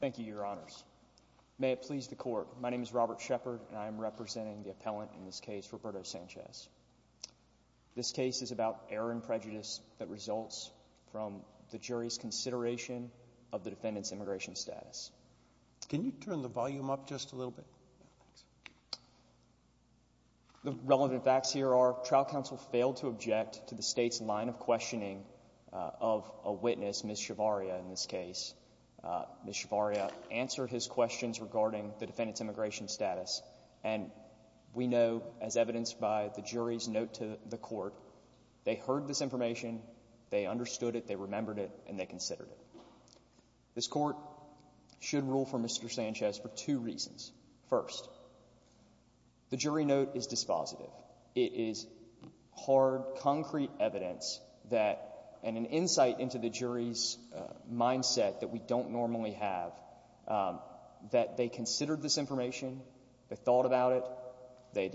Thank you, Your Honors. May it please the Court, my name is Robert Shepard, and I am representing the appellant in this case, Roberto Sanchez. This case is about error and prejudice that results from the jury's consideration of the defendant's immigration status. Can you turn the volume up just a little bit? The relevant facts here are, trial counsel failed to object to the state's line of questioning of a witness, Ms. Shavaria, in this case. Ms. Shavaria answered his questions regarding the defendant's immigration status, and we know, as evidenced by the jury's note to the court, they heard this information, they understood it, they remembered it, and they considered it. This Court should rule for Mr. Sanchez for two reasons. First, the jury note is dispositive. It is hard, concrete evidence that, and an insight into the jury's mindset that we don't normally have, that they considered this information, they thought about it, they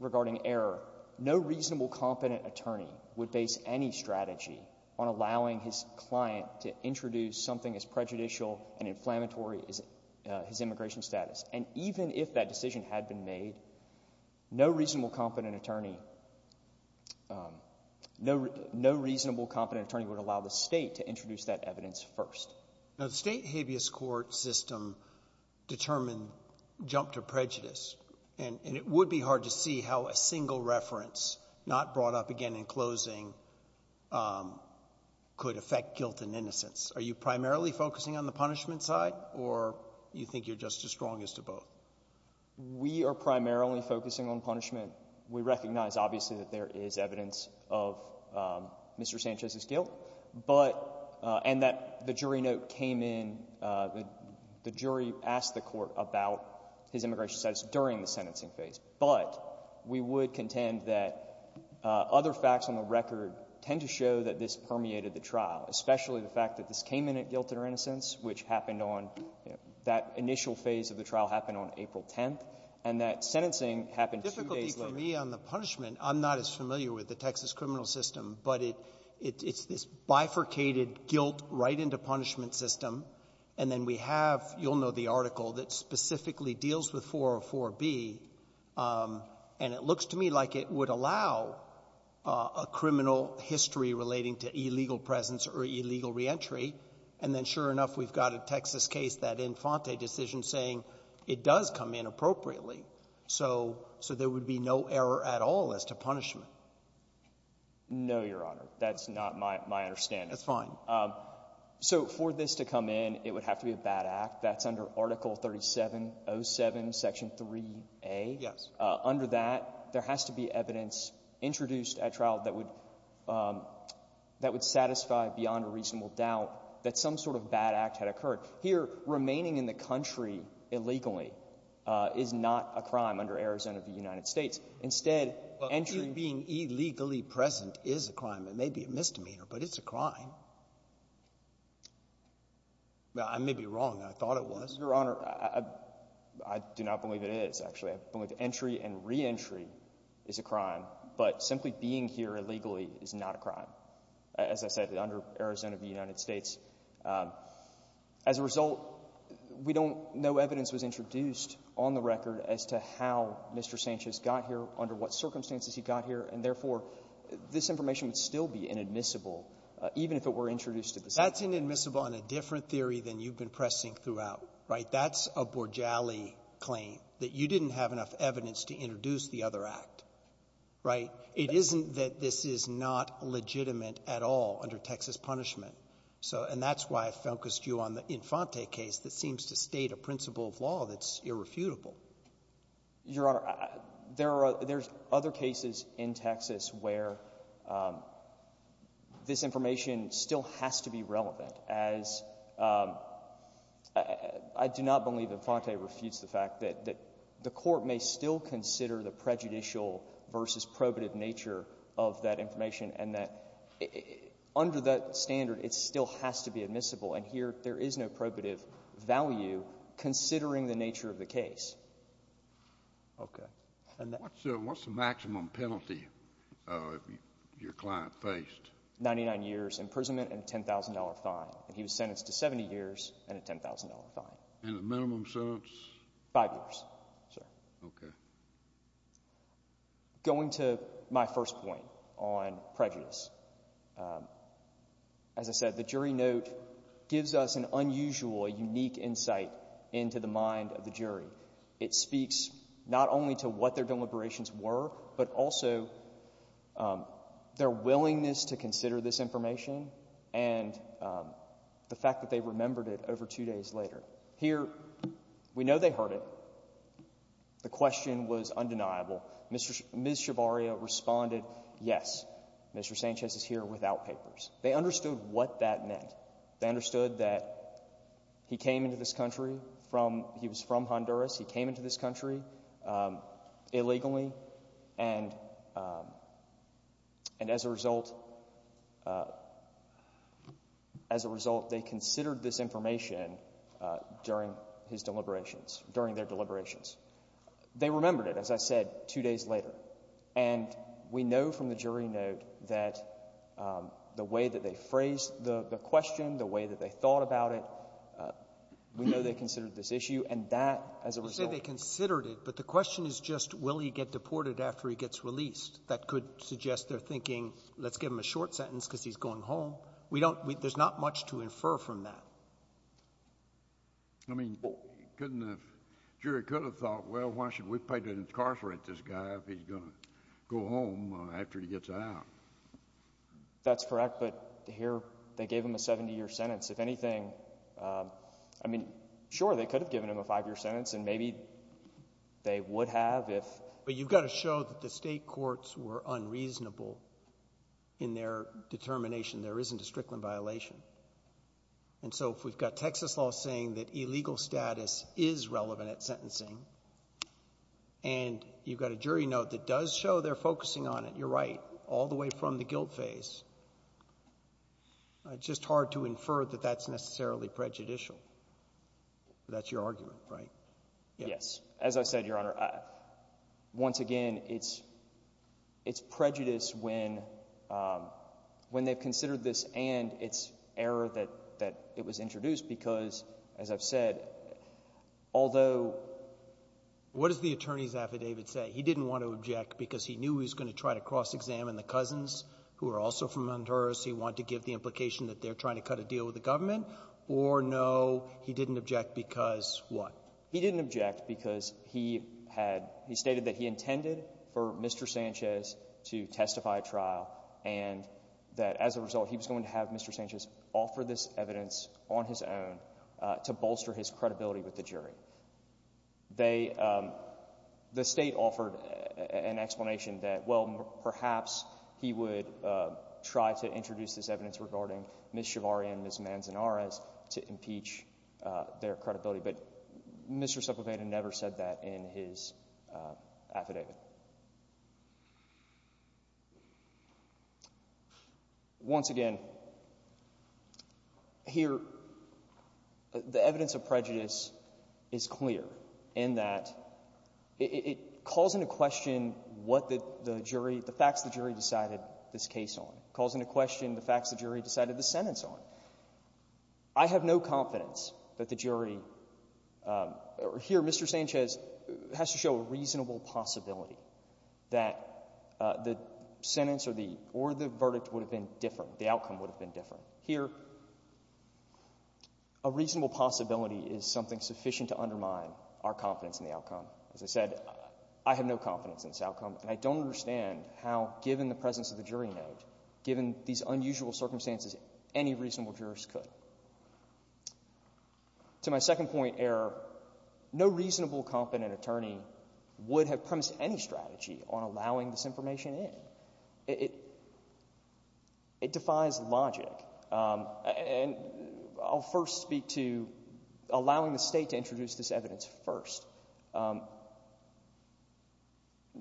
regarding error. No reasonable, competent attorney would base any strategy on allowing his client to introduce something as prejudicial and inflammatory as his immigration status. And even if that decision had been made, no reasonable, competent attorney, no reasonable, competent attorney would allow the State to introduce that evidence first. Now, the State habeas court system determined jump to prejudice, and it would be hard to see how a single reference, not brought up again in closing, could affect guilt and innocence. Are you primarily focusing on the punishment side, or do you think you're just as strong as to both? We are primarily focusing on punishment. We recognize, obviously, that there is evidence of Mr. Sanchez's guilt, but and that the jury note came in, the jury asked the court about his immigration status during the sentencing phase. But we would contend that other facts on the record tend to show that this permeated the trial, especially the fact that this came in at guilt and innocence, which happened on that initial phase of the trial happened on April 10th, and that sentencing happened two days later. For me, on the punishment, I'm not as familiar with the Texas criminal system, but it's this bifurcated guilt-right-into-punishment system, and then we have, you'll know the article, that specifically deals with 404b, and it looks to me like it would allow a criminal history relating to illegal presence or illegal reentry, and then, sure enough, we've got a Texas case, that Infante decision, saying it does no error at all as to punishment. No, Your Honor. That's not my understanding. That's fine. So for this to come in, it would have to be a bad act. That's under Article 3707, Section 3a. Yes. Under that, there has to be evidence introduced at trial that would satisfy beyond a reasonable doubt that some sort of bad act had occurred. Here, remaining in the country illegally is not a crime under Arizona v. United States. Instead, entry — Well, here being illegally present is a crime. It may be a misdemeanor, but it's a crime. I may be wrong. I thought it was. Your Honor, I do not believe it is, actually. I believe entry and reentry is a crime, but simply being here illegally is not a crime, as I said, under Arizona v. United States. As a result, we don't — no evidence was introduced on the record as to how Mr. Sanchez got here, under what circumstances he got here. And therefore, this information would still be inadmissible, even if it were introduced at the same time. That's inadmissible on a different theory than you've been pressing throughout. Right? That's a Borgialli claim, that you didn't have enough evidence to introduce the other act. Right? It isn't that this is not legitimate at all under Texas punishment. So — and that's why I focused you on the Infante case that seems to state a principle of law that's irrefutable. Your Honor, there are — there's other cases in Texas where this information still has to be relevant, as I do not believe Infante refutes the fact that the Court may still consider the prejudicial versus probative nature of that information, and that under that standard, it still has to be admissible. And here, there is no probative value considering the nature of the case. Okay. And that — What's the maximum penalty your client faced? Ninety-nine years imprisonment and a $10,000 fine. And he was sentenced to 70 years and a $10,000 fine. And the minimum sentence? Five years, sir. Okay. Going to my first point on prejudice, as I said, the jury note gives us an unusual, a unique insight into the mind of the jury. It speaks not only to what their deliberations were, but also their willingness to consider this information and the fact that they remembered it over two days later. Here, we know they heard it. The question was undeniable. Ms. Schiavaria responded, yes, Mr. Sanchez is here without papers. They understood what that meant. They understood that he came into this country from — he was from Honduras. He came into this country illegally. And as a result — as a result, they considered this information during his deliberations, during their deliberations. They remembered it, as I said, two days later. And we know from the jury note that the way that they phrased the question, the way that they thought about it, we know they considered this issue. And that, as a result — You say they considered it, but the question is just will he get deported after he gets released. That could suggest they're thinking, let's give him a short sentence because he's going home. We don't — there's not much to infer from that. I mean, couldn't have — jury could have thought, well, why should we pay to incarcerate this guy if he's going to go home after he gets out? That's correct, but here they gave him a 70-year sentence. If anything — I mean, sure, they could have given him a five-year sentence, and maybe they would have if — But you've got to show that the state courts were unreasonable in their determination. There isn't a Strickland violation. And so if we've got Texas law saying that illegal status is relevant at sentencing, and you've got a jury note that does show they're focusing on it, you're right, all the way from the guilt phase, it's just hard to infer that that's necessarily prejudicial. That's your argument, right? Yes. As I said, Your Honor, once again, it's prejudice when they've considered this and it's error that — that it was introduced because, as I've said, although — What does the attorney's affidavit say? He didn't want to object because he knew he was going to try to cross-examine the cousins who are also from Honduras. He wanted to give the implication that they're trying to cut a deal with the government? Or, no, he didn't object because what? He didn't object because he had — he stated that he intended for Mr. Sanchez to testify at trial and that, as a result, he was going to have Mr. Sanchez offer this evidence on his own to bolster his credibility with the jury. They — the state offered an explanation that, well, perhaps he would try to introduce this evidence regarding Ms. Chivarria and Ms. Manzanares to impeach their credibility, but Mr. Sepulveda never said that in his affidavit. Once again, here, the evidence of prejudice is clear in that it calls into question what the jury — the facts the jury decided this case on. It calls into question the facts the jury decided the sentence on. I have no confidence that the jury — or here, Mr. Sanchez has to show a reasonable possibility that the sentence or the — or the verdict would have been different, the outcome would have been different. Here, a reasonable possibility is something sufficient to undermine our confidence in the outcome. As I said, I have no confidence in this outcome, and I don't understand how, given the presence of the jury note, given these unusual circumstances, any reasonable jurist could. To my second point, Error, no reasonable, competent attorney would have premised any strategy on allowing this information in. It — it defies logic, and I'll first speak to allowing the state to introduce this evidence first. No —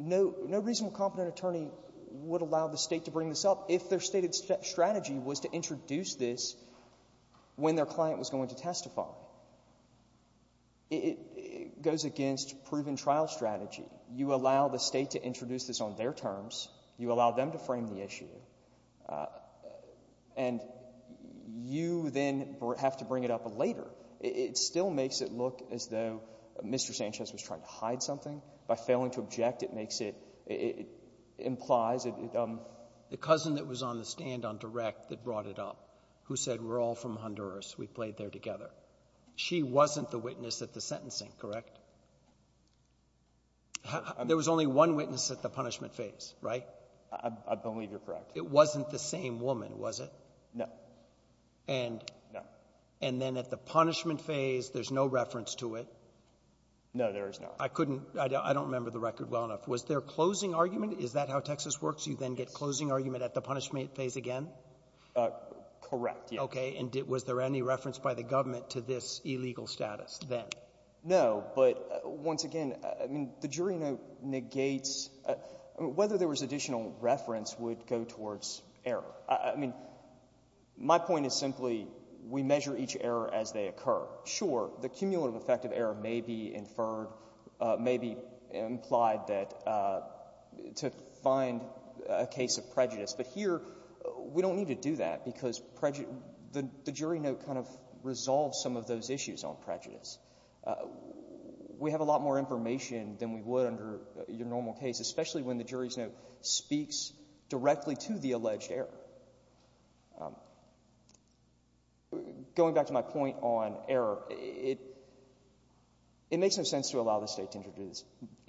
no reasonable, competent attorney would allow the state to bring this up if their stated strategy was to introduce this when their client was going to testify. It — it goes against proven trial strategy. You allow the state to introduce this on their terms. You allow them to frame the issue, and you then have to bring it up later. It still makes it look as though Mr. Sanchez was trying to hide something. By failing to object, it makes it — it implies it — I don't know if you've heard the stand-on direct that brought it up, who said, we're all from Honduras, we played there together. She wasn't the witness at the sentencing, correct? There was only one witness at the punishment phase, right? I — I believe you're correct. It wasn't the same woman, was it? No. And — No. And then at the punishment phase, there's no reference to it? No, there is no. I couldn't — I don't remember the record well enough. Was there closing argument? Is that how Texas works? You then get closing argument at the punishment phase again? Correct, yes. Okay. And was there any reference by the government to this illegal status then? No, but once again, I mean, the jury note negates — I mean, whether there was additional reference would go towards error. I mean, my point is simply, we measure each error as they occur. Sure, the cumulative effect of error may be inferred, may be implied that — to find a case of prejudice. But here, we don't need to do that because prejudice — the jury note kind of resolves some of those issues on prejudice. We have a lot more information than we would under your normal case, especially when the jury's note speaks directly to the alleged error. Going back to my point on error, it — it makes no sense to allow the State to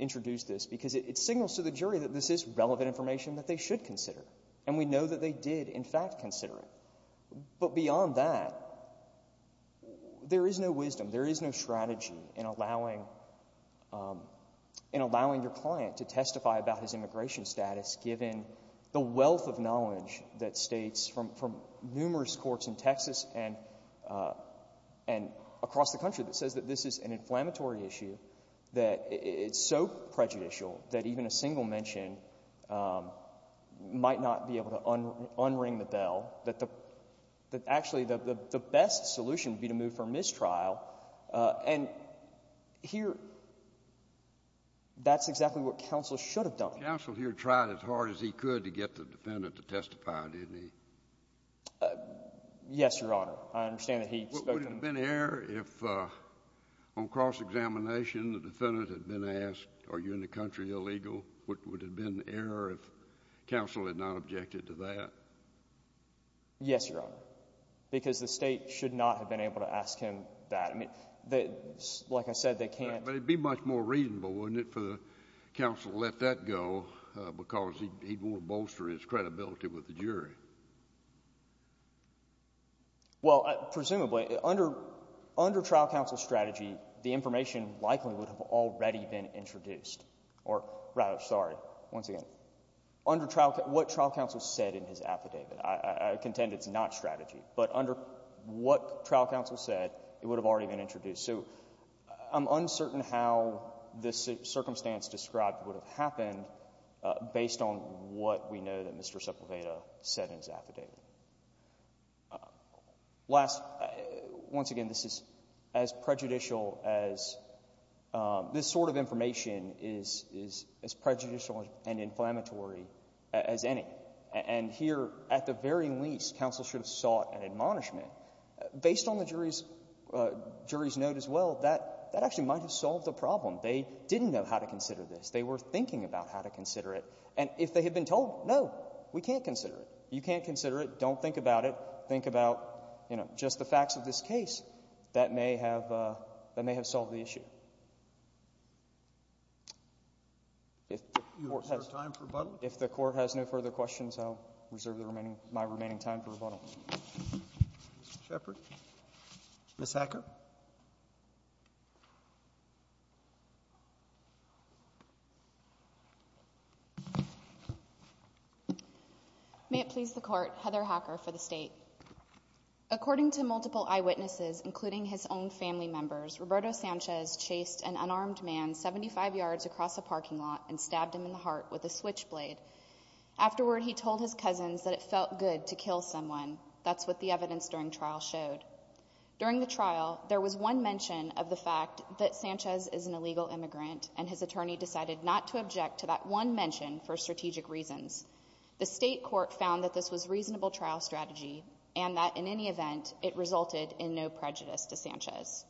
introduce this because it signals to the jury that this is relevant information that they should consider. And we know that they did, in fact, consider it. But beyond that, there is no wisdom, there is no strategy in allowing — in allowing your client to testify about his immigration status given the wealth of knowledge that States from numerous courts in Texas and across the country that says that this is an inflammatory issue, that it's so prejudicial that even a single mention might not be able to unring the bell, that actually the best solution would be to move for mistrial. And here, that's exactly what counsel should have done. Counsel here tried as hard as he could to get the defendant to testify, didn't he? Yes, Your Honor. I understand that he spoke to the — Would it have been error if, on cross-examination, the defendant had been asked, are you in the country illegal? Would it have been error if counsel had not objected to that? Yes, Your Honor, because the State should not have been able to ask him that. I mean, they — like I said, they can't — But it would be much more reasonable, wouldn't it, for the counsel to let that go because Well, presumably, under trial counsel's strategy, the information likely would have already been introduced, or rather, sorry, once again, what trial counsel said in his affidavit. I contend it's not strategy. But under what trial counsel said, it would have already been introduced. So I'm uncertain how this circumstance described would have happened based on what we know that Mr. Sepulveda said in his affidavit. Last — once again, this is as prejudicial as — this sort of information is as prejudicial and inflammatory as any. And here, at the very least, counsel should have sought an admonishment. Based on the jury's note as well, that actually might have solved the problem. They didn't know how to consider this. They were thinking about how to consider it. And if they had been told, no, we can't consider it, you can't consider it, don't think about it, think about, you know, just the facts of this case, that may have — that may have solved the issue. If the Court has no further questions, I'll reserve my remaining time for rebuttal. Mr. Shepherd. Ms. Hacker. May it please the Court, Heather Hacker for the State. According to multiple eyewitnesses, including his own family members, Roberto Sanchez chased an unarmed man 75 yards across a parking lot and stabbed him in the heart with a switchblade. Afterward, he told his cousins that it felt good to kill someone. That's what the evidence during trial showed. During the trial, there was one mention of the fact that Sanchez is an illegal immigrant and his attorney decided not to object to that one mention for strategic reasons. The State Court found that this was reasonable trial strategy and that, in any event, it resulted in no prejudice to Sanchez.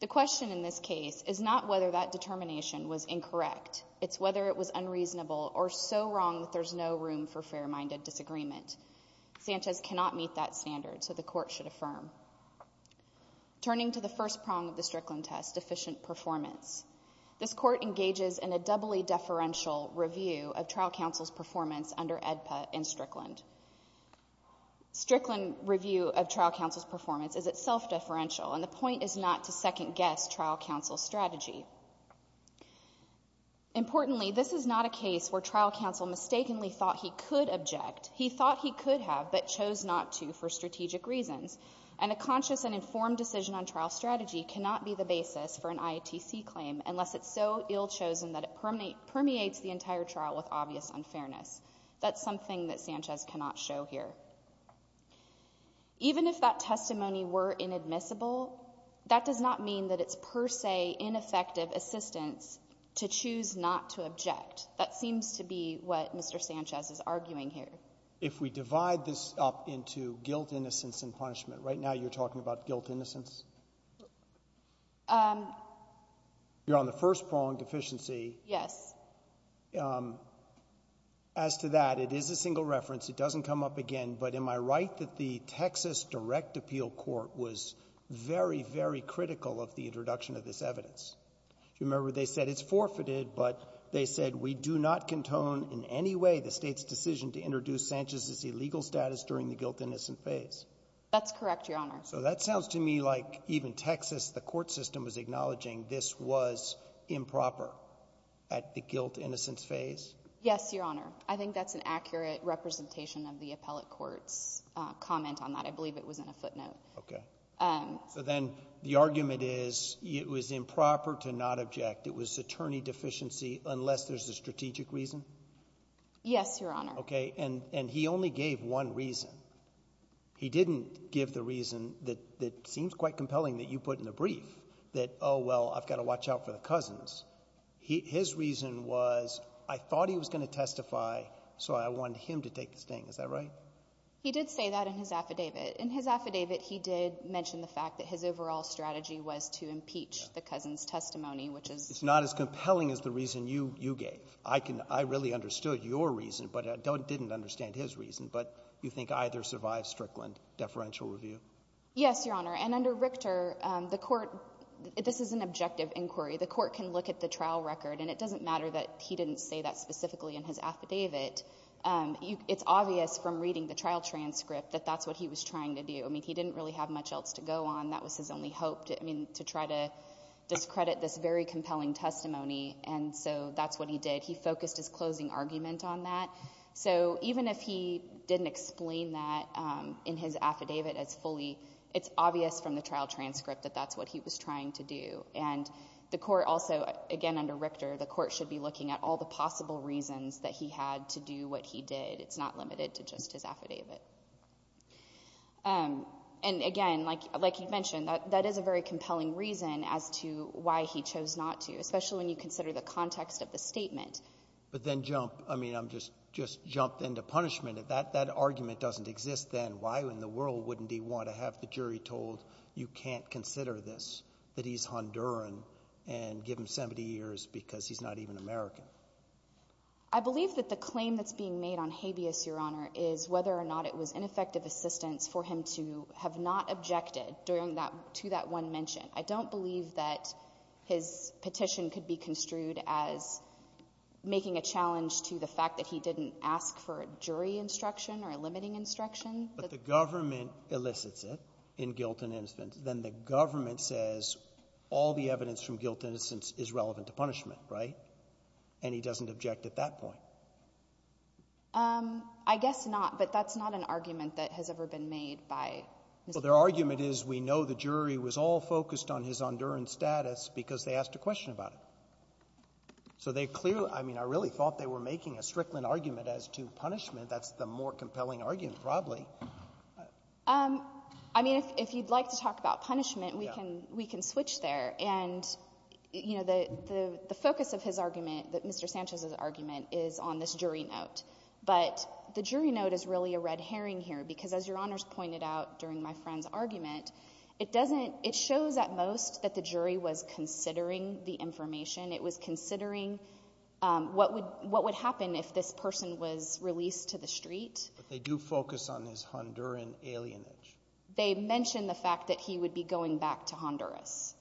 The question in this case is not whether that determination was incorrect. It's whether it was unreasonable or so wrong that there's no room for fair-minded disagreement. Sanchez cannot meet that standard, so the Court should affirm. Turning to the first prong of the Strickland test, deficient performance. This Court engages in a doubly deferential review of trial counsel's performance under AEDPA in Strickland. Strickland review of trial counsel's performance is itself deferential, and the point is not to second-guess trial counsel's strategy. Importantly, this is not a case where trial counsel mistakenly thought he could object. He thought he could have, but chose not to for strategic reasons. And a conscious and informed decision on trial strategy cannot be the basis for an IATC claim unless it's so ill-chosen that it permeates the entire trial with obvious unfairness. That's something that Sanchez cannot show here. Even if that testimony were inadmissible, that does not mean that it's per se ineffective assistance to choose not to object. That seems to be what Mr. Sanchez is arguing here. If we divide this up into guilt, innocence, and punishment, right now you're talking about guilt, innocence? You're on the first prong, deficiency. Yes. As to that, it is a single reference. It doesn't come up again. But am I right that the Texas Direct Appeal Court was very, very critical of the introduction of this evidence? Do you remember they said it's forfeited, but they said we do not contone in any way the State's decision to introduce Sanchez's illegal status during the guilt, innocence phase? That's correct, Your Honor. So that sounds to me like even Texas, the court system, was acknowledging this was improper at the guilt, innocence phase? Yes, Your Honor. I think that's an accurate representation of the appellate court's comment on that. I believe it was in a footnote. Okay. So then the argument is it was improper to not object. It was attorney deficiency unless there's a strategic reason? Yes, Your Honor. Okay. And he only gave one reason. He didn't give the reason that seems quite compelling that you put in the brief, that, oh, well, I've got to watch out for the cousins. His reason was I thought he was going to testify, so I wanted him to take the sting. Is that right? He did say that in his affidavit. In his affidavit, he did mention the fact that his overall strategy was to impeach the cousins' testimony, which is — It's not as compelling as the reason you gave. I really understood your reason, but I didn't understand his reason. But you think either survives Strickland deferential review? Yes, Your Honor. And under Richter, the court — this is an objective inquiry. The court can look at the trial record, and it doesn't matter that he didn't say that specifically in his affidavit. It's obvious from reading the trial transcript that that's what he was trying to do. I mean, he didn't really have much else to go on. That was his only hope, I mean, to try to discredit this very compelling testimony, and so that's what he did. He focused his closing argument on that. So even if he didn't explain that in his affidavit as fully, it's obvious from the trial transcript that that's what he was trying to do. And the court also — again, under Richter, the court should be looking at all the possible reasons that he had to do what he did. It's not limited to just his affidavit. And again, like you mentioned, that is a very compelling reason as to why he chose not to, especially when you consider the context of the statement. But then jump — I mean, just jump into punishment. If that argument doesn't exist then, why in the world wouldn't he want to have the jury told, you can't consider this, that he's Honduran, and give him 70 years because he's not even American? I believe that the claim that's being made on habeas, Your Honor, is whether or not it was ineffective assistance for him to have not objected to that one mention. I don't believe that his petition could be construed as making a challenge to the fact that he didn't ask for a jury instruction or a limiting instruction. But the government elicits it in guilt and innocence. Then the government says all the evidence from guilt and innocence is relevant to punishment, right? And he doesn't object at that point. I guess not. Well, their argument is we know the jury was all focused on his Honduran status because they asked a question about it. So they clearly — I mean, I really thought they were making a Strickland argument as to punishment. That's the more compelling argument, probably. I mean, if you'd like to talk about punishment, we can switch there. And, you know, the focus of his argument, Mr. Sanchez's argument, is on this jury note. But the jury note is really a red herring here, because as Your Honor's pointed out during my friend's argument, it doesn't — it shows at most that the jury was considering the information. It was considering what would happen if this person was released to the street. But they do focus on his Honduran alienage. They mention the fact that he would be going back to Honduras.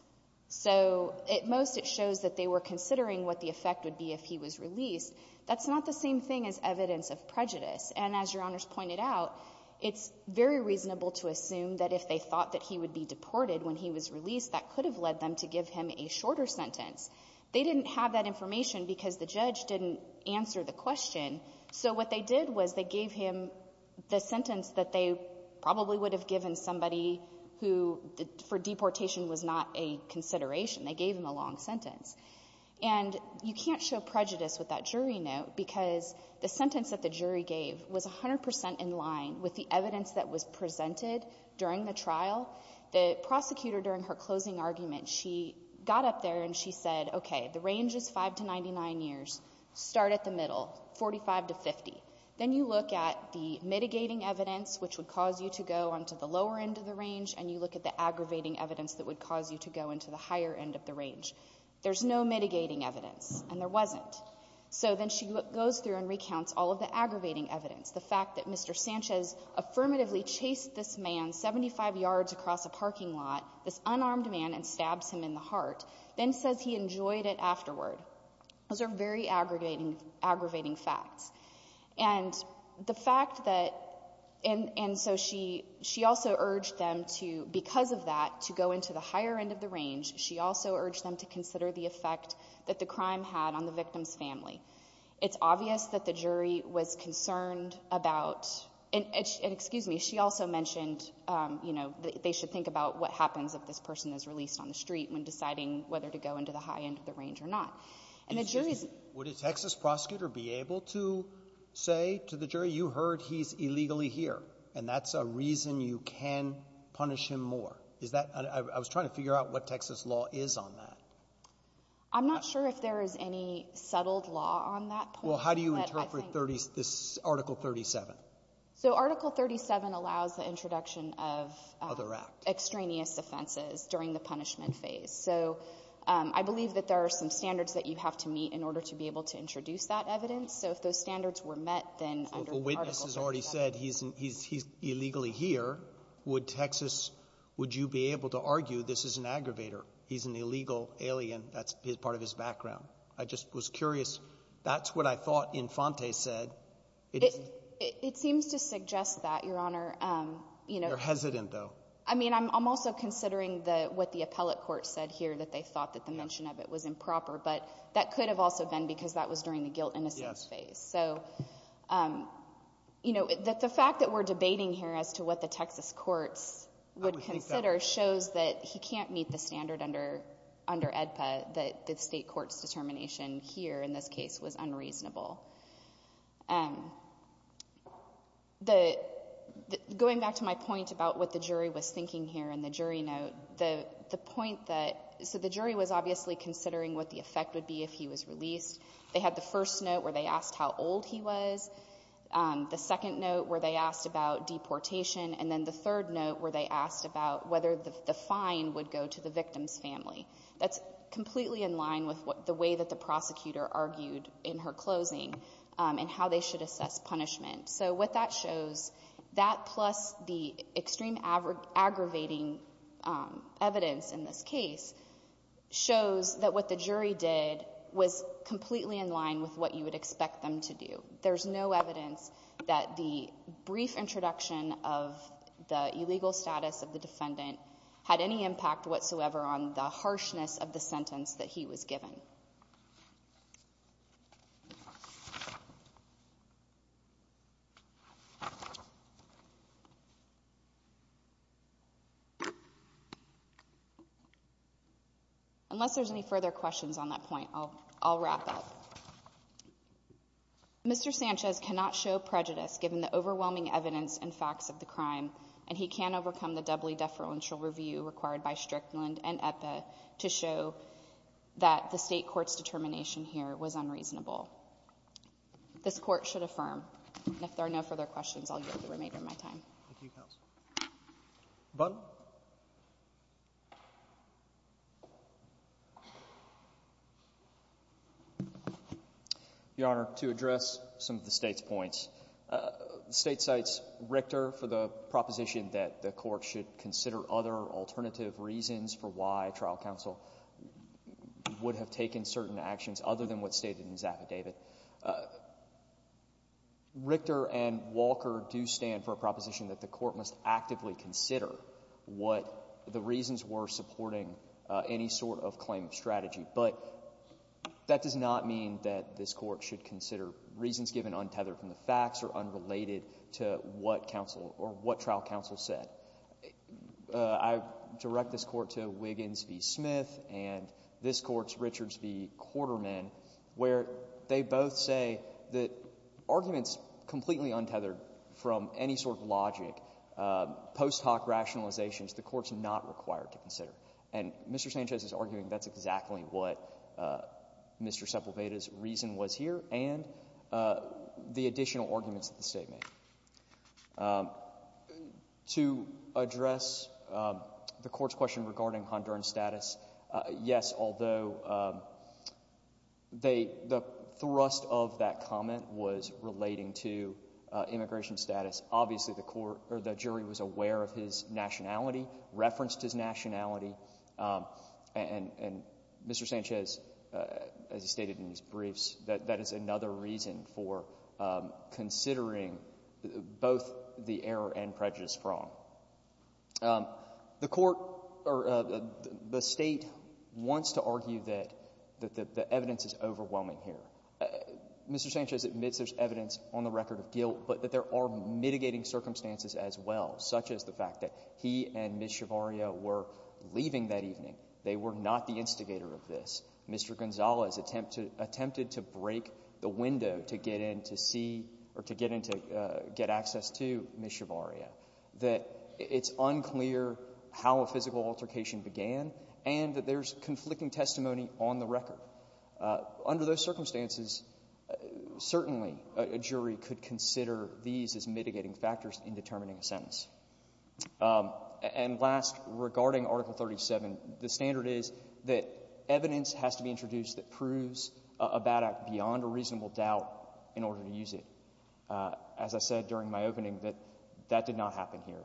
So at most it shows that they were considering what the effect would be if he was released. That's not the same thing as evidence of prejudice. And as Your Honor's pointed out, it's very reasonable to assume that if they thought that he would be deported when he was released, that could have led them to give him a shorter sentence. They didn't have that information because the judge didn't answer the question. So what they did was they gave him the sentence that they probably would have given somebody who for deportation was not a consideration. They gave him a long sentence. And you can't show prejudice with that jury note because the sentence that the jury gave was 100 percent in line with the evidence that was presented during the trial. The prosecutor during her closing argument, she got up there and she said, okay, the range is 5 to 99 years. Start at the middle, 45 to 50. Then you look at the mitigating evidence, which would cause you to go onto the lower end of the range, and you look at the aggravating evidence that would cause you to go into the higher end of the range. There's no mitigating evidence. And there wasn't. So then she goes through and recounts all of the aggravating evidence, the fact that Mr. Sanchez affirmatively chased this man 75 yards across a parking lot, this unarmed man, and stabbed him in the heart, then says he enjoyed it afterward. Those are very aggravating facts. And the fact that — and so she also urged them to, because of that, to go into the higher end of the range. She also urged them to consider the effect that the crime had on the victim's family. It's obvious that the jury was concerned about — and excuse me, she also mentioned, you know, they should think about what happens if this person is released on the street when deciding whether to go into the high end of the range or not. And the jury's — Would a Texas prosecutor be able to say to the jury, you heard he's illegally here, and that's a reason you can punish him more? Is that — I was trying to figure out what Texas law is on that. I'm not sure if there is any settled law on that point. Well, how do you interpret this Article 37? So Article 37 allows the introduction of extraneous offenses during the punishment phase. So I believe that there are some standards that you have to meet in order to be able to introduce that evidence. So if those standards were met, then under Article 37 — The witness has already said he's illegally here. Would Texas — would you be able to argue this is an aggravator, he's an illegal alien, that's part of his background? I just was curious. That's what I thought Infante said. It seems to suggest that, Your Honor. You're hesitant, though. I mean, I'm also considering what the appellate court said here, that they thought that the mention of it was improper, but that could have also been because that was during the guilt-innocence phase. So, you know, the fact that we're debating here as to what the Texas courts would consider shows that he can't meet the standard under EDPA, that the State court's determination here in this case was unreasonable. Going back to my point about what the jury was thinking here in the jury note, the point that — so the jury was obviously considering what the effect would be if he was released. They had the first note where they asked how old he was, the second note where they asked about deportation, and then the third note where they asked about whether the fine would go to the victim's family. That's completely in line with the way that the prosecutor argued in her closing and how they should assess punishment. So what that shows, that plus the extreme aggravating evidence in this case shows that what the jury did was completely in line with what you would expect them to do. There's no evidence that the brief introduction of the illegal status of the defendant had any impact whatsoever on the harshness of the sentence that he was given. Unless there's any further questions on that point, I'll wrap up. Mr. Sanchez cannot show prejudice given the overwhelming evidence and facts of the crime, and he can't overcome the doubly deferential review required by Strickland and EPA to show that the State court's determination here was unreasonable. This Court should affirm. And if there are no further questions, I'll yield the remainder of my time. Thank you, counsel. Butler? Your Honor, to address some of the State's points, the State cites Richter for the reasons for why trial counsel would have taken certain actions other than what's stated in his affidavit. Richter and Walker do stand for a proposition that the Court must actively consider what the reasons were supporting any sort of claim of strategy. But that does not mean that this Court should consider reasons given untethered from the facts or unrelated to what trial counsel said. I direct this Court to Wiggins v. Smith, and this Court's Richards v. Quarterman, where they both say that arguments completely untethered from any sort of logic, post hoc rationalizations, the Court's not required to consider. And Mr. Sanchez is arguing that's exactly what Mr. Sepulveda's reason was here and the additional arguments that the State made. To address the Court's question regarding Honduran status, yes, although the thrust of that comment was relating to immigration status, obviously the jury was aware of his nationality, referenced his nationality, and Mr. Sanchez, as he stated in his briefs, that is another reason for considering both the error and prejudice from. The Court or the State wants to argue that the evidence is overwhelming here. Mr. Sanchez admits there's evidence on the record of guilt, but that there are mitigating circumstances as well, such as the fact that he and Ms. Shavaria were leaving that evening. They were not the instigator of this. Mr. Gonzales attempted to break the window to get in to see or to get in to get access to Ms. Shavaria, that it's unclear how a physical altercation began, and that there's conflicting testimony on the record. Under those circumstances, certainly a jury could consider these as mitigating factors in determining a sentence. And last, regarding Article 37, the standard is that evidence has to be introduced that proves a bad act beyond a reasonable doubt in order to use it. As I said during my opening, that did not happen here.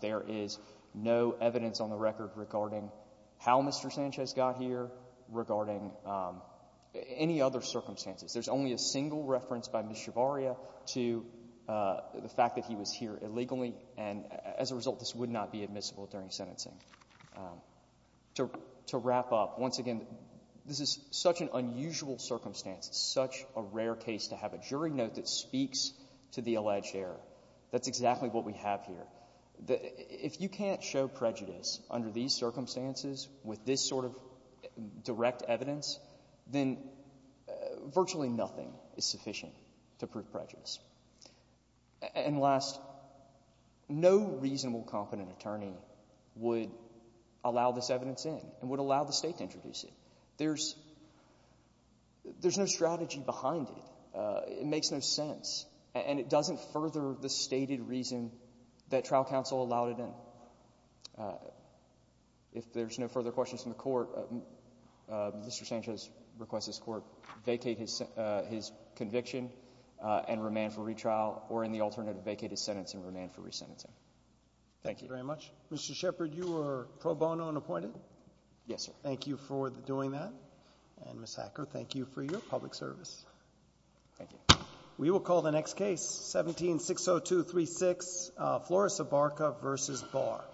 There is no evidence on the record regarding how Mr. Sanchez got here, regarding any other circumstances. There's only a single reference by Ms. Shavaria to the fact that he was here illegally, and as a result, this would not be admissible during sentencing. To wrap up, once again, this is such an unusual circumstance, such a rare case to have a jury note that speaks to the alleged error. That's exactly what we have here. If you can't show prejudice under these circumstances with this sort of direct evidence, then virtually nothing is sufficient to prove prejudice. And last, no reasonable, competent attorney would allow this evidence in and would allow the State to introduce it. There's no strategy behind it. It makes no sense, and it doesn't further the stated reason that trial counsel allowed it in. If there's no further questions from the Court, Mr. Sanchez requests this Court vacate his conviction and remand for retrial, or in the alternative, vacate his sentence and remand for resentencing. Thank you. Thank you very much. Mr. Shepard, you are pro bono and appointed? Yes, sir. Thank you for doing that. And Ms. Hacker, thank you for your public service. Thank you. We will call the next case, 17-602-36, Flores-Ibarca v. Barr.